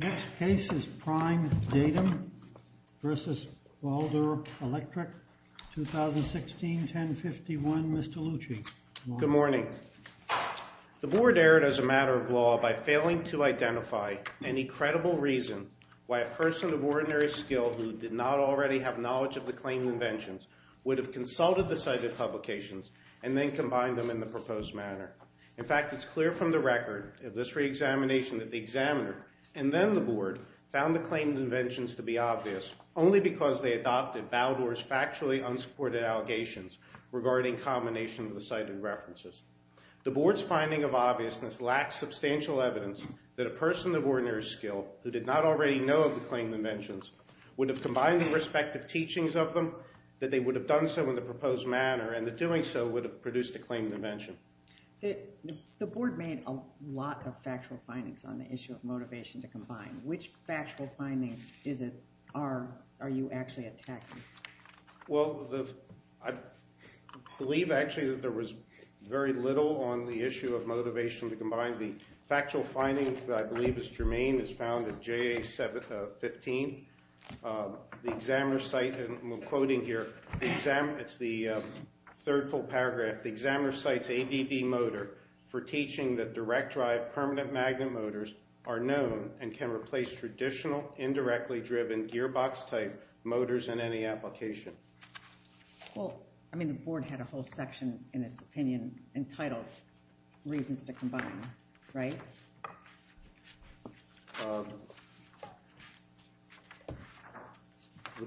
2016-1051, Mr. Lucci. Good morning. The Board erred as a matter of law by failing to identify any credible reason why a person of ordinary skill who did not already have knowledge of the claimed inventions would have consulted the cited publications and then combined them in the proposed manner. In fact, it's clear from the record of this reexamination that the examiner and then the Board found the claimed inventions to be obvious only because they adopted Baldor's factually unsupported allegations regarding combination of the cited references. The Board's finding of obviousness lacks substantial evidence that a person of ordinary skill who did not already know of the claimed inventions would have combined the respective teachings of them, that they would have done so in the proposed manner, and that doing so would have produced a claimed invention. The Board made a lot of factual findings on the issue of motivation to combine. Which factual findings are you actually attacking? Well, I believe actually that there was very little on the issue of motivation to combine. The factual finding that I believe is germane is found in JA 15. The examiner cite, and I'm quoting here, it's the third full paragraph, the examiner cites ABB motor for teaching that direct drive permanent magnet motors are known and can replace traditional indirectly driven gearbox type motors in any application. Well, I mean the Board had a whole section in its opinion entitled reasons to combine, right? The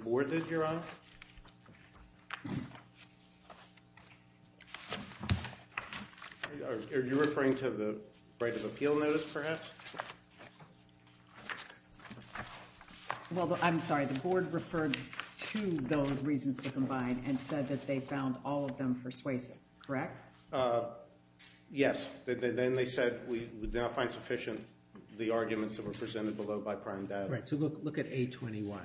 Board that you're on? Are you referring to the right of appeal notice, perhaps? Well, I'm sorry, the Board referred to those reasons to combine and said that they found all of them persuasive, correct? Yes, then they said we would not find sufficient the arguments that were presented below by prime data. Right, so look at A21,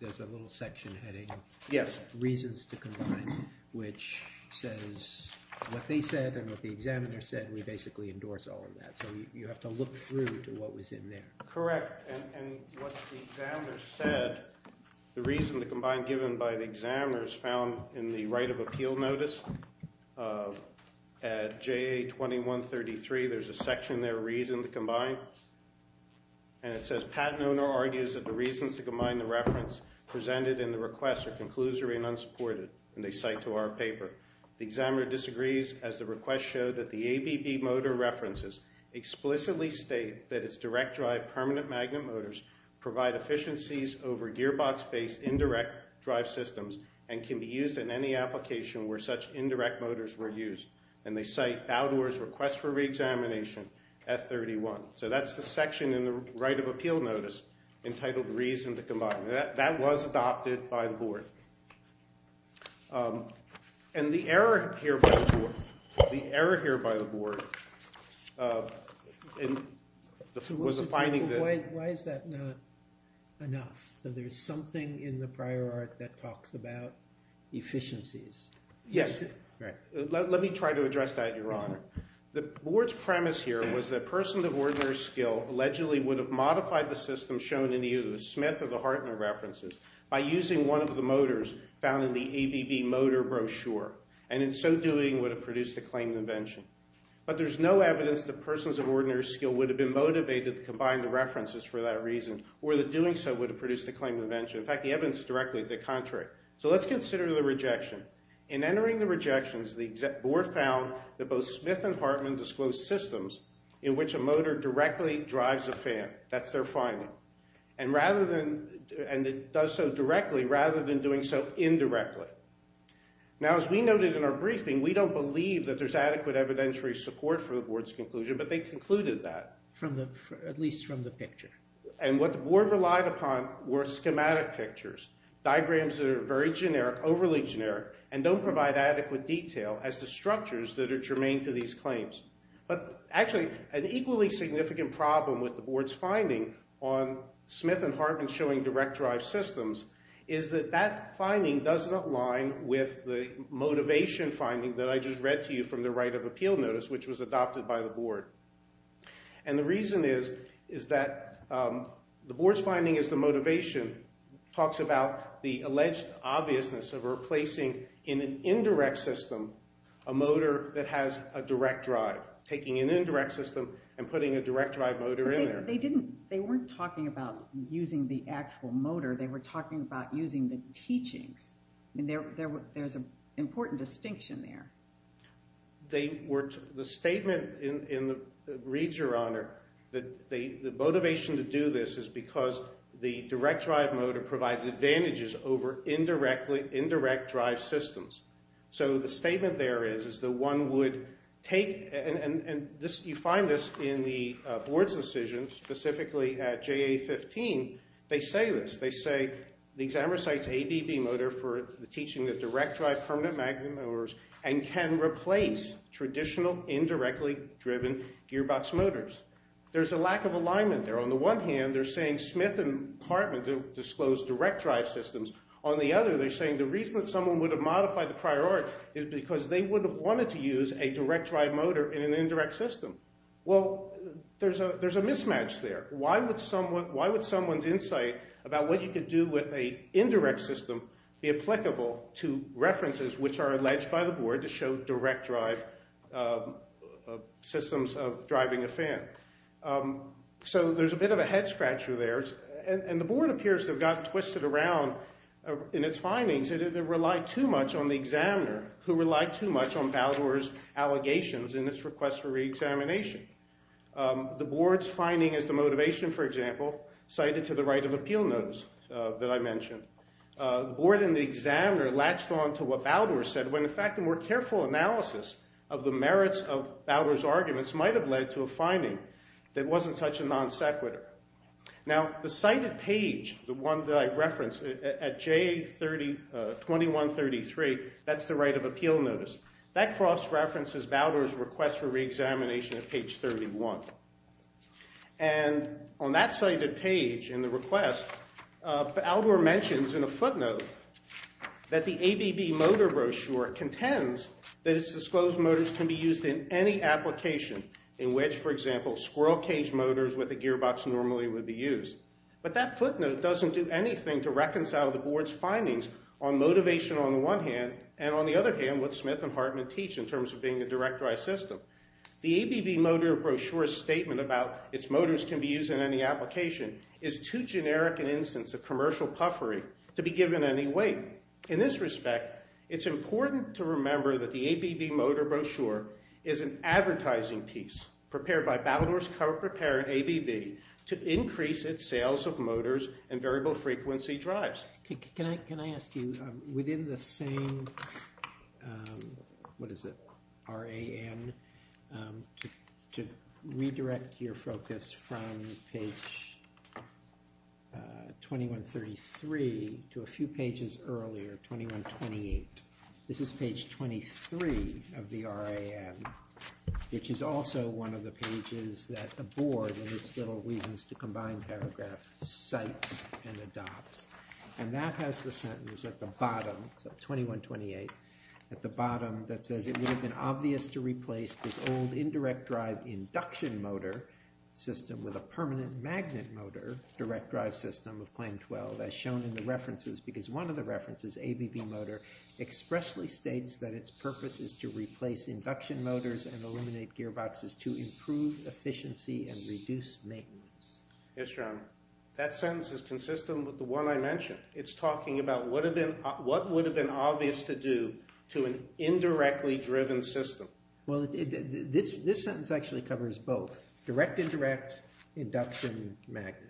there's a little section heading, yes, reasons to combine, which says what they said and what the examiner said, we basically endorse all of that, so you have to look through to what was in there. Correct, and what the examiner said, the reason to combine given by the examiner is found in the right of appeal notice at JA 2133. There's a section there, reason to combine, and it says patent owner argues that the reasons to combine the reference presented in the request are conclusory and unsupported, and they cite to our paper. The examiner disagrees as the request showed that the ABB motor references explicitly state that it's direct drive permanent magnet motors provide efficiencies over gearbox based indirect drive systems and can be used in any application where such indirect motors were used, and they cite Baudour's request for reexamination at 31. So that's the section in the right of appeal notice entitled reason to combine. That was adopted by the board, and the error here by the board was the finding that... So why is that not enough? So there's something in the prior art that talks about efficiencies. Yes, let me try to address that, your honor. The board's premise here was that person of ordinary skill was using one of the motors found in the ABB motor brochure, and in so doing would have produced a claim of invention. But there's no evidence that persons of ordinary skill would have been motivated to combine the references for that reason, or that doing so would have produced a claim of invention. In fact, the evidence is directly the contrary. So let's consider the rejection. In entering the rejections, the board found that both Smith and Hartman disclosed systems in which a motor directly drives a fan. That's their finding. And it does so directly rather than doing so indirectly. Now, as we noted in our briefing, we don't believe that there's adequate evidentiary support for the board's conclusion, but they concluded that. At least from the picture. And what the board relied upon were schematic pictures, diagrams that are very generic, overly generic, and don't provide adequate detail as to structures that are germane to these claims. But actually, an equally significant problem with the board's finding on Smith and Hartman showing direct drive systems is that that finding doesn't align with the motivation finding that I just read to you from the right of appeal notice, which was adopted by the board. And the reason is that the board's finding is the motivation talks about the alleged obviousness of replacing in an indirect system a motor that has a direct drive. Taking an indirect system and putting a direct drive motor in there. They weren't talking about using the actual motor. They were talking about using the teachings. There's an important distinction there. The statement reads, Your Honor, that the motivation to do this is because the direct drive motor provides advantages over indirect drive systems. So the statement there is that one would take, and you find this in the board's decision, specifically at JA-15, they say this. They say the examiner cites ABB motor for the teaching of direct drive permanent magnet motors and can replace traditional indirectly driven gearbox motors. There's a lack of alignment there. On the one hand, they're saying Smith and Hartman disclosed direct drive systems. On the other, they're saying the reason that someone would have modified the prior art is because they would have wanted to use a direct drive motor in an indirect system. Well, there's a mismatch there. Why would someone's insight about what you could do with an indirect system be applicable to references which are alleged by the board to show direct drive systems of driving a fan? So there's a bit of a head scratcher there. And the board appears to have gotten twisted around in its findings and it relied too much on the examiner who relied too much on Baldor's allegations in its request for reexamination. The board's finding is the motivation, for example, cited to the right of appeal notice that I mentioned. The board and the examiner latched on to what Baldor said when in fact a more careful analysis of the merits of Baldor's page, the one that I referenced at J2133, that's the right of appeal notice. That cross-references Baldor's request for reexamination at page 31. And on that cited page in the request, Baldor mentions in a footnote that the ABB motor brochure contends that its disclosed motors can be used in any application in which, for example, squirrel cage motors with a gearbox normally would be used. But that footnote doesn't do anything to reconcile the board's findings on motivation on the one hand and on the other hand what Smith and Hartman teach in terms of being a direct drive system. The ABB motor brochure's statement about its motors can be used in any application is too generic an instance of commercial puffery to be given any weight. In this respect, it's important to remember that the ABB motor brochure is an advertising piece prepared by Baldor's corporate parent, ABB, to increase its sales of motors and variable frequency drives. Can I ask you, within the same RAN, to redirect your focus from page 2133 to a few pages earlier, 2128. This is page 23 of the RAN, which is also one of the pages that the board, in its little reasons to combine paragraph, cites and adopts. And that has the sentence at the bottom, 2128, that says it would have been obvious to replace this old indirect drive induction motor system with a permanent magnet motor direct drive system of claim 12 as shown in the references because one of the references, ABB motor, expressly states that its purpose is to replace induction motors and illuminate gearboxes to improve efficiency and reduce maintenance. Yes, Your Honor. That sentence is consistent with the one I mentioned. It's talking about what would have been obvious to do to an indirectly driven system. Well, this sentence actually covers both, direct-indirect induction magnet.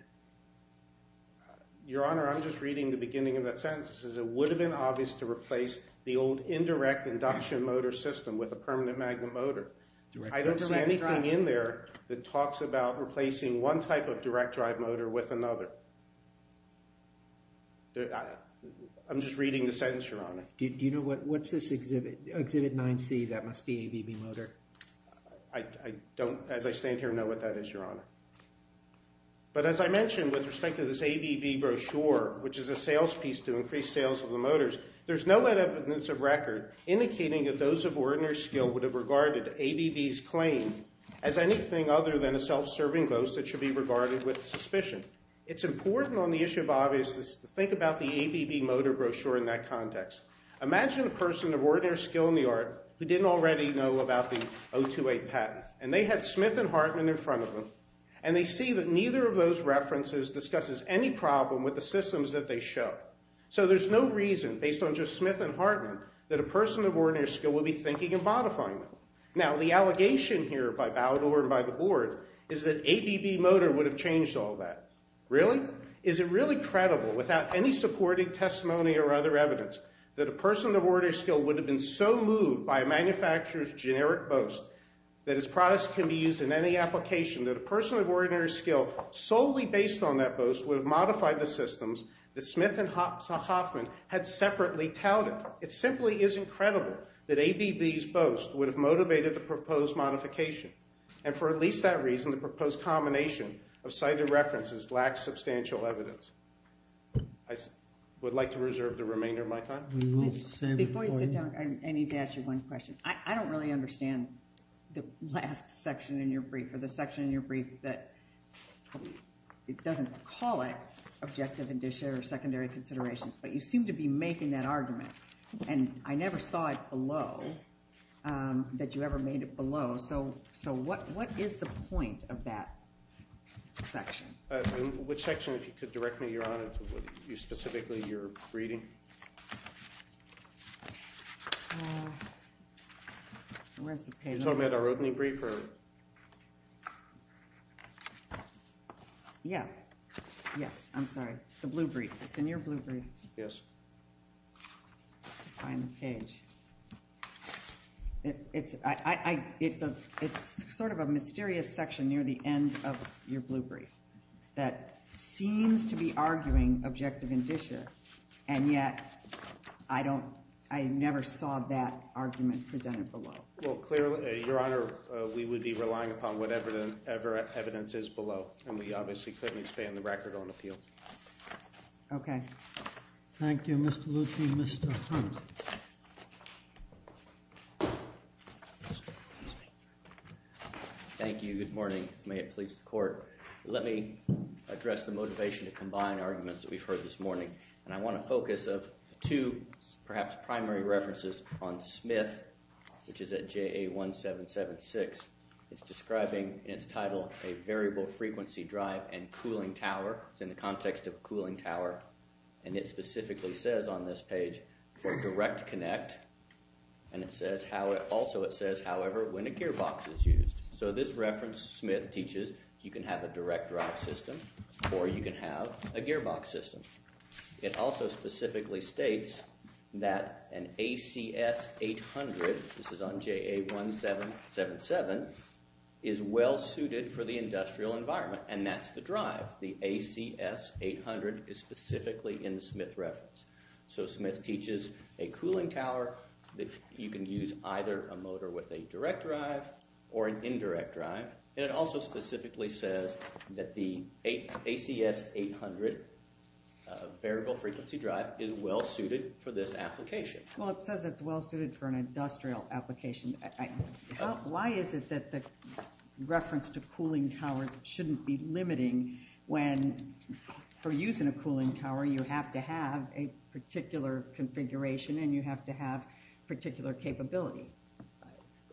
Your Honor, I'm just reading the beginning of that sentence. It says it would have been obvious to replace the old indirect induction motor system with a permanent magnet motor. I don't see anything in there that talks about replacing one type of direct drive motor with another. I'm just reading the sentence, Your Honor. Do you know what's this exhibit? Exhibit 9C, that must be ABB motor. I don't, as I stand here, know what that is, Your Honor. But as I mentioned, with respect to this ABB brochure, which is a sales piece to increase sales of the motors, there's no evidence of record indicating that those of ordinary skill would have regarded ABB's claim as anything other than a self-serving boast that should be regarded with suspicion. It's important on the issue of obviousness to think about the ABB motor brochure in that context. Imagine a person of ordinary skill in the art who didn't already know about the 028 patent. And they had Smith and Hartman in front of them, and they see that neither of those references discusses any problem with the systems that they show. So there's no reason, based on just Smith and Hartman, that a person of ordinary skill would be thinking of modifying them. Now, the allegation here by Balador and by the board is that ABB motor would have changed all that. Really? Is it really credible, without any supporting testimony or other evidence, that a person of ordinary skill would have been so moved by a manufacturer's generic boast that its products can be used in any application that a person of ordinary skill, solely based on that boast, would have modified the systems that Smith and Hoffman had separately touted? It simply is incredible that ABB's boast would have motivated the proposed modification. And for at least that reason, the proposed combination of cited references lacks substantial evidence. I would like to reserve the remainder of my time. Before you sit down, I need to ask you one question. I don't really understand the last section in your brief, or the section in your brief that doesn't call it objective and dis-share secondary considerations. But you seem to be making that argument, and I never saw it below, that you ever made it below. So what is the point of that section? Which section, if you could direct me, Your Honor, specifically, you're reading? You're talking about our opening brief? Yeah. Yes, I'm sorry. The blue brief. It's in your blue brief. Yes. Let me find the page. It's sort of a mysterious section near the end of your blue brief that seems to be arguing objective and dis-share, and yet I never saw that argument presented below. Well, clearly, Your Honor, we would be relying upon whatever evidence is below. And we obviously couldn't expand the record on appeal. Okay. Thank you, Mr. Lucci. Mr. Hunt. Thank you. Good morning. May it please the Court. Let me address the motivation to combine arguments that we've heard this morning. And I want to focus of two, perhaps, primary references on Smith, which is at JA 1776. It's describing, in its title, a variable frequency drive and cooling tower. It's in the context of a cooling tower. And it specifically says on this page for direct connect. And it says, also it says, however, when a gearbox is used. So this reference, Smith teaches, you can have a direct drive system or you can have a gearbox system. It also specifically states that an ACS 800, this is on JA 1777, is well suited for the industrial environment. And that's the drive. The ACS 800 is specifically in the Smith reference. So Smith teaches a cooling tower that you can use either a motor with a direct drive or an indirect drive. And it also specifically says that the ACS 800 variable frequency drive is well suited for this application. Well, it says it's well suited for an industrial application. Why is it that the reference to cooling towers shouldn't be limiting when, for use in a cooling tower, you have to have a particular configuration and you have to have particular capability?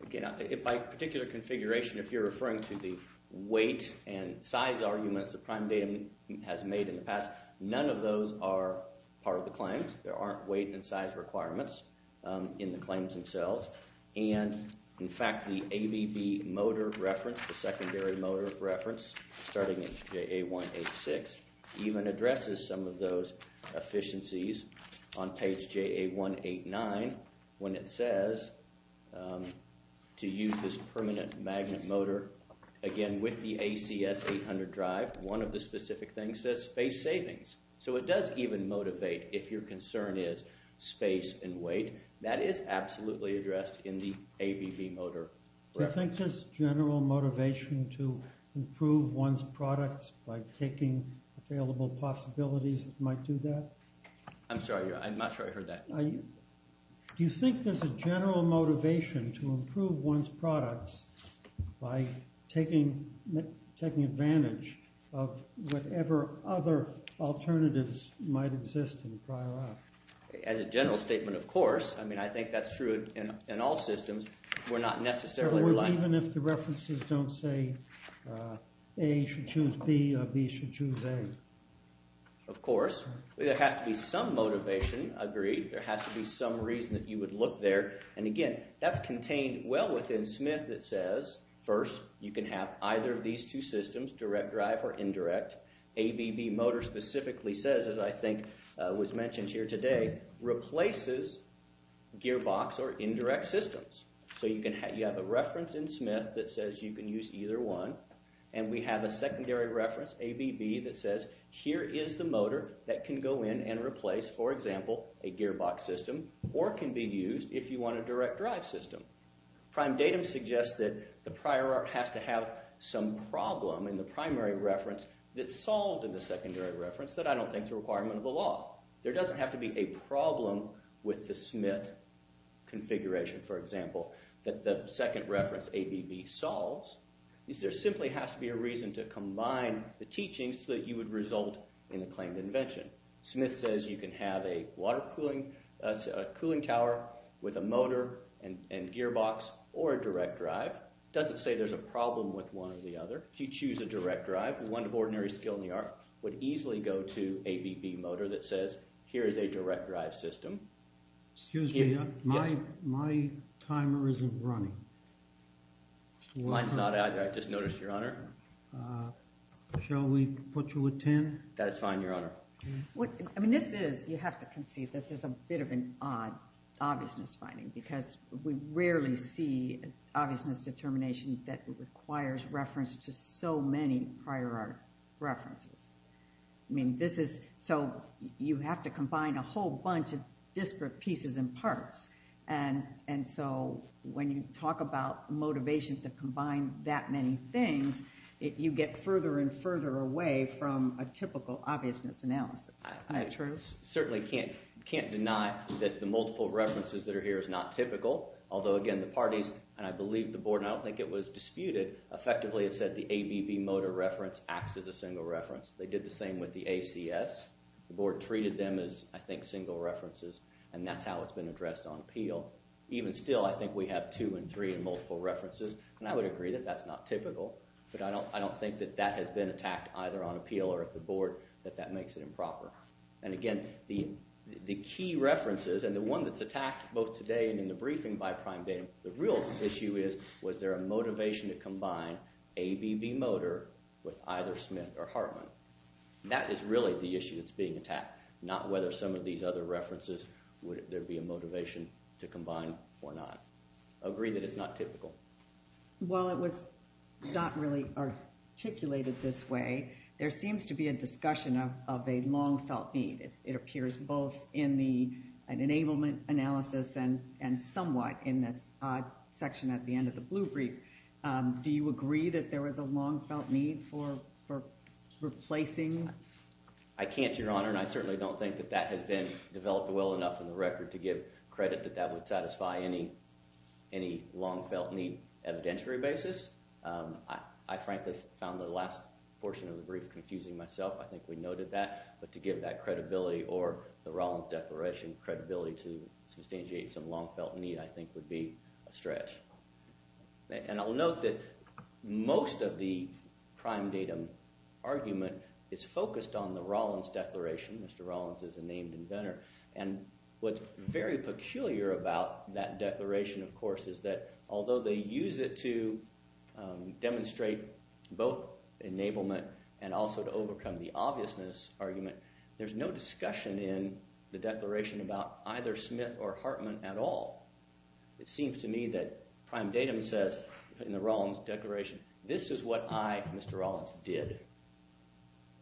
Again, by particular configuration, if you're referring to the weight and size arguments, the prime data has made in the past, none of those are part of the claims. There aren't weight and size requirements in the claims themselves. And, in fact, the ABB motor reference, the secondary motor reference, starting at JA 186, even addresses some of those efficiencies on page JA 189 when it says to use this permanent magnet motor. Again, with the ACS 800 drive, one of the specific things says space savings. So it does even motivate if your concern is space and weight. That is absolutely addressed in the ABB motor reference. Do you think there's a general motivation to improve one's products by taking available possibilities that might do that? I'm sorry. I'm not sure I heard that. Do you think there's a general motivation to improve one's products by taking advantage of whatever other alternatives might exist in the prior app? As a general statement, of course. I mean, I think that's true in all systems. In other words, even if the references don't say A should choose B or B should choose A. Of course. There has to be some motivation. Agreed. There has to be some reason that you would look there. And, again, that's contained well within Smith that says, first, you can have either of these two systems, direct drive or indirect. ABB motor specifically says, as I think was mentioned here today, replaces gearbox or indirect systems. So you have a reference in Smith that says you can use either one. And we have a secondary reference, ABB, that says here is the motor that can go in and replace, for example, a gearbox system or can be used if you want a direct drive system. Prime datum suggests that the prior art has to have some problem in the primary reference that's solved in the secondary reference that I don't think is a requirement of the law. There doesn't have to be a problem with the Smith configuration, for example, that the second reference, ABB, solves. There simply has to be a reason to combine the teachings so that you would result in the claimed invention. Smith says you can have a water cooling tower with a motor and gearbox or a direct drive. It doesn't say there's a problem with one or the other. If you choose a direct drive, one of ordinary skill in the art would easily go to ABB motor that says here is a direct drive system. Excuse me. Yes. My timer isn't running. Mine's not either. I just noticed, Your Honor. Shall we put you a 10? That is fine, Your Honor. I mean, this is, you have to conceive, this is a bit of an odd obviousness finding because we rarely see obviousness determination that requires reference to so many prior art references. I mean, this is, so you have to combine a whole bunch of disparate pieces and parts. And so when you talk about motivation to combine that many things, you get further and further away from a typical obviousness analysis. Isn't that true? I certainly can't deny that the multiple references that are here is not typical. Although, again, the parties, and I believe the board, and I don't think it was disputed, effectively have said the ABB motor reference acts as a single reference. They did the same with the ACS. The board treated them as, I think, single references. And that's how it's been addressed on appeal. Even still, I think we have two and three in multiple references. And I would agree that that's not typical. But I don't think that that has been attacked either on appeal or at the board, that that makes it improper. And again, the key references, and the one that's attacked both today and in the briefing by Prime Data, the real issue is, was there a motivation to combine ABB motor with either Smith or Hartman? That is really the issue that's being attacked, not whether some of these other references, would there be a motivation to combine or not. I agree that it's not typical. While it was not really articulated this way, there seems to be a discussion of a long-felt need. It appears both in the enablement analysis and somewhat in this odd section at the end of the blue brief. Do you agree that there was a long-felt need for replacing? I can't, Your Honor. And I certainly don't think that that has been developed well enough in the record to give credit that that would satisfy any long-felt need evidentiary basis. I frankly found the last portion of the brief confusing myself. I think we noted that. But to give that credibility or the Rollins Declaration credibility to substantiate some long-felt need, I think, would be a stretch. And I'll note that most of the crime datum argument is focused on the Rollins Declaration. Mr. Rollins is a named inventor. And what's very peculiar about that declaration, of course, is that although they use it to demonstrate both enablement and also to overcome the obviousness argument, there's no discussion in the declaration about either Smith or Hartman at all. It seems to me that crime datum says in the Rollins Declaration, this is what I, Mr. Rollins, did.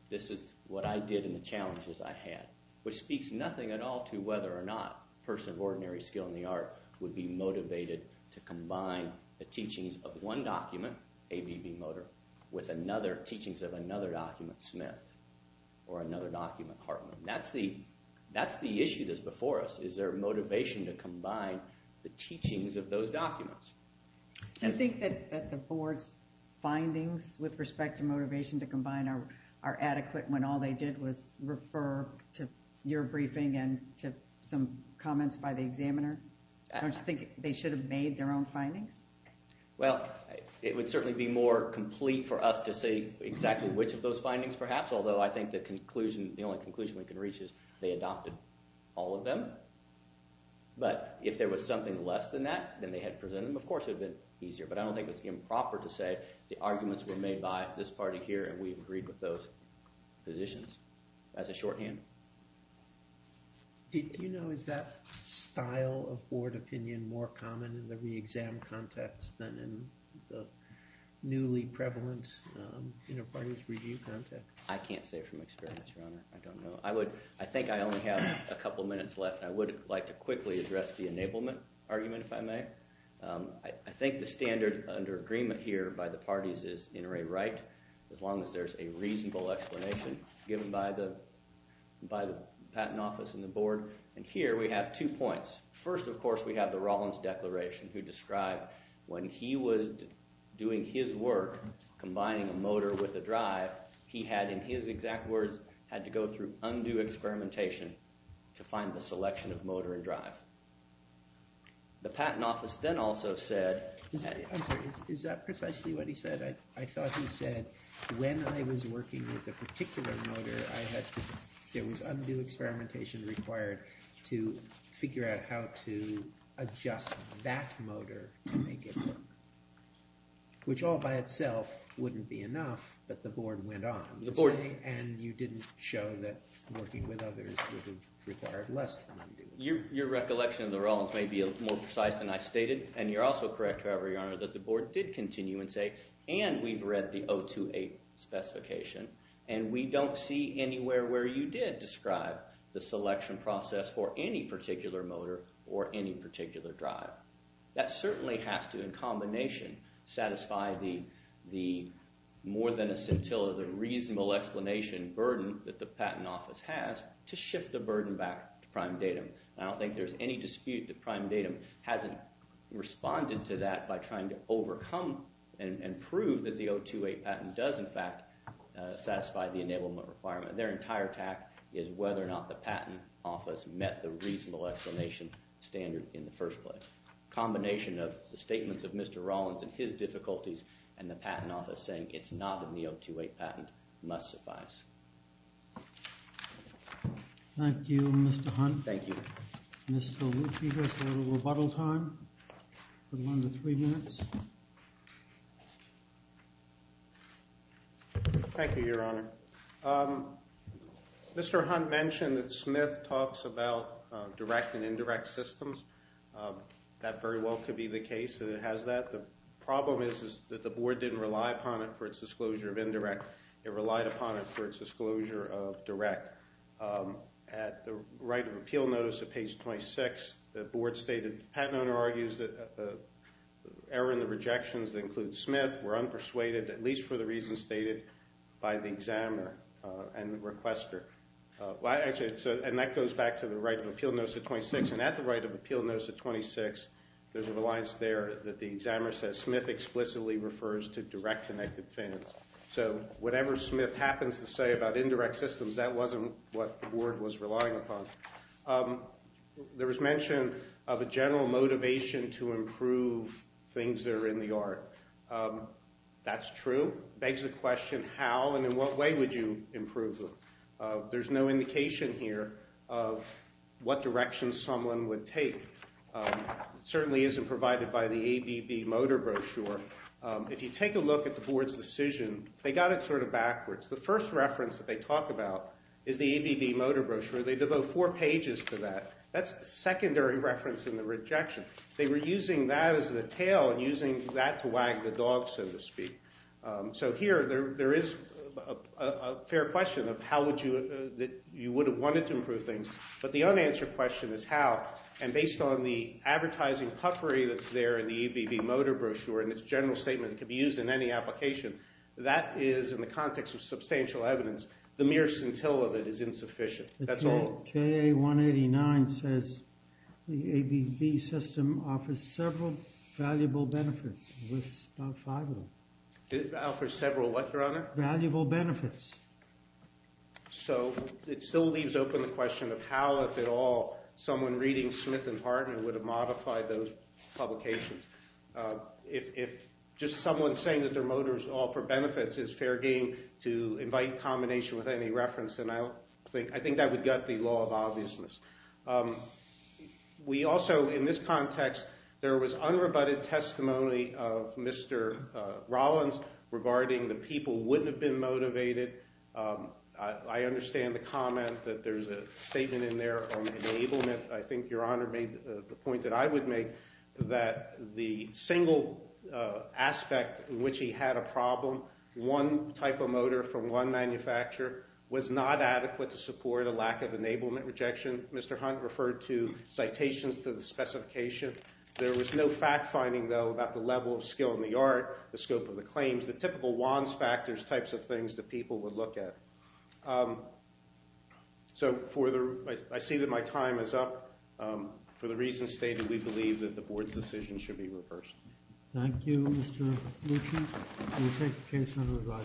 This is what I did and the challenges I had, which speaks nothing at all to whether or not a person of ordinary skill in the art would be motivated to combine the teachings of one document, A.B.B. Motor, with another teachings of another document, Smith, or another document, Hartman. That's the issue that's before us. Is there motivation to combine the teachings of those documents? Do you think that the board's findings with respect to motivation to combine are adequate when all they did was refer to your briefing and to some comments by the examiner? Don't you think they should have made their own findings? Well, it would certainly be more complete for us to say exactly which of those findings perhaps, although I think the conclusion – the only conclusion we can reach is they adopted all of them. But if there was something less than that, then they had presented them. Of course, it would have been easier, but I don't think it's improper to say the arguments were made by this party here and we agreed with those positions as a shorthand. Do you know, is that style of board opinion more common in the re-exam context than in the newly prevalent inter-parties review context? I can't say from experience, Your Honor. I don't know. I think I only have a couple minutes left, and I would like to quickly address the enablement argument, if I may. I think the standard under agreement here by the parties is inter-array right, as long as there's a reasonable explanation given by the patent office and the board. And here we have two points. First, of course, we have the Rollins Declaration, who described when he was doing his work combining a motor with a drive, he had, in his exact words, had to go through undue experimentation to find the selection of motor and drive. The patent office then also said… I'm sorry. Is that precisely what he said? I thought he said when I was working with a particular motor, I had to – there was undue experimentation required to figure out how to adjust that motor to make it work, which all by itself wouldn't be enough, but the board went on. The board… And you didn't show that working with others would have required less than undue experimentation. Your recollection of the Rollins may be more precise than I stated, and you're also correct, however, Your Honor, that the board did continue and say, and we've read the 028 specification, and we don't see anywhere where you did describe the selection process for any particular motor or any particular drive. That certainly has to, in combination, satisfy the more than a scintilla, the reasonable explanation burden that the patent office has to shift the burden back to prime datum. I don't think there's any dispute that prime datum hasn't responded to that by trying to overcome and prove that the 028 patent does, in fact, satisfy the enablement requirement. Their entire tact is whether or not the patent office met the reasonable explanation standard in the first place. Combination of the statements of Mr. Rollins and his difficulties and the patent office saying it's not a 028 patent must suffice. Thank you, Mr. Hunt. Thank you. Mr. Lucci, we have a little rebuttal time, a little under three minutes. Thank you, Your Honor. Mr. Hunt mentioned that Smith talks about direct and indirect systems. That very well could be the case. It has that. The problem is that the board didn't rely upon it for its disclosure of indirect. It relied upon it for its disclosure of direct. At the right of appeal notice at page 26, the board stated, the patent owner argues that the error in the rejections that include Smith were unpersuaded, at least for the reasons stated by the examiner and requester. And that goes back to the right of appeal notice at 26. And at the right of appeal notice at 26, there's a reliance there that the examiner says Smith explicitly refers to direct connected fans. So whatever Smith happens to say about indirect systems, that wasn't what the board was relying upon. There was mention of a general motivation to improve things that are in the art. That's true. Begs the question, how and in what way would you improve them? There's no indication here of what direction someone would take. It certainly isn't provided by the ABB motor brochure. If you take a look at the board's decision, they got it sort of backwards. The first reference that they talk about is the ABB motor brochure. They devote four pages to that. That's the secondary reference in the rejection. They were using that as the tail and using that to wag the dog, so to speak. So here there is a fair question of how would you – that you would have wanted to improve things. But the unanswered question is how. And based on the advertising puffery that's there in the ABB motor brochure and its general statement, it could be used in any application. That is, in the context of substantial evidence, the mere scintilla that is insufficient. That's all. KA-189 says the ABB system offers several valuable benefits. It lists about five of them. It offers several what, Your Honor? Valuable benefits. So it still leaves open the question of how, if at all, someone reading Smith and Hartman would have modified those publications. If just someone saying that their motor is all for benefits is fair game to invite combination with any reference, then I think that would gut the law of obviousness. We also, in this context, there was unrebutted testimony of Mr. Rollins regarding the people wouldn't have been motivated. I understand the comment that there's a statement in there on enablement. I think Your Honor made the point that I would make that the single aspect in which he had a problem, one type of motor from one manufacturer, was not adequate to support a lack of enablement rejection. Mr. Hunt referred to citations to the specification. There was no fact finding, though, about the level of skill in the art, the scope of the claims, the typical wands factors types of things that people would look at. So I see that my time is up. For the reasons stated, we believe that the board's decision should be reversed. Thank you, Mr. Lucci. We'll take the case under review.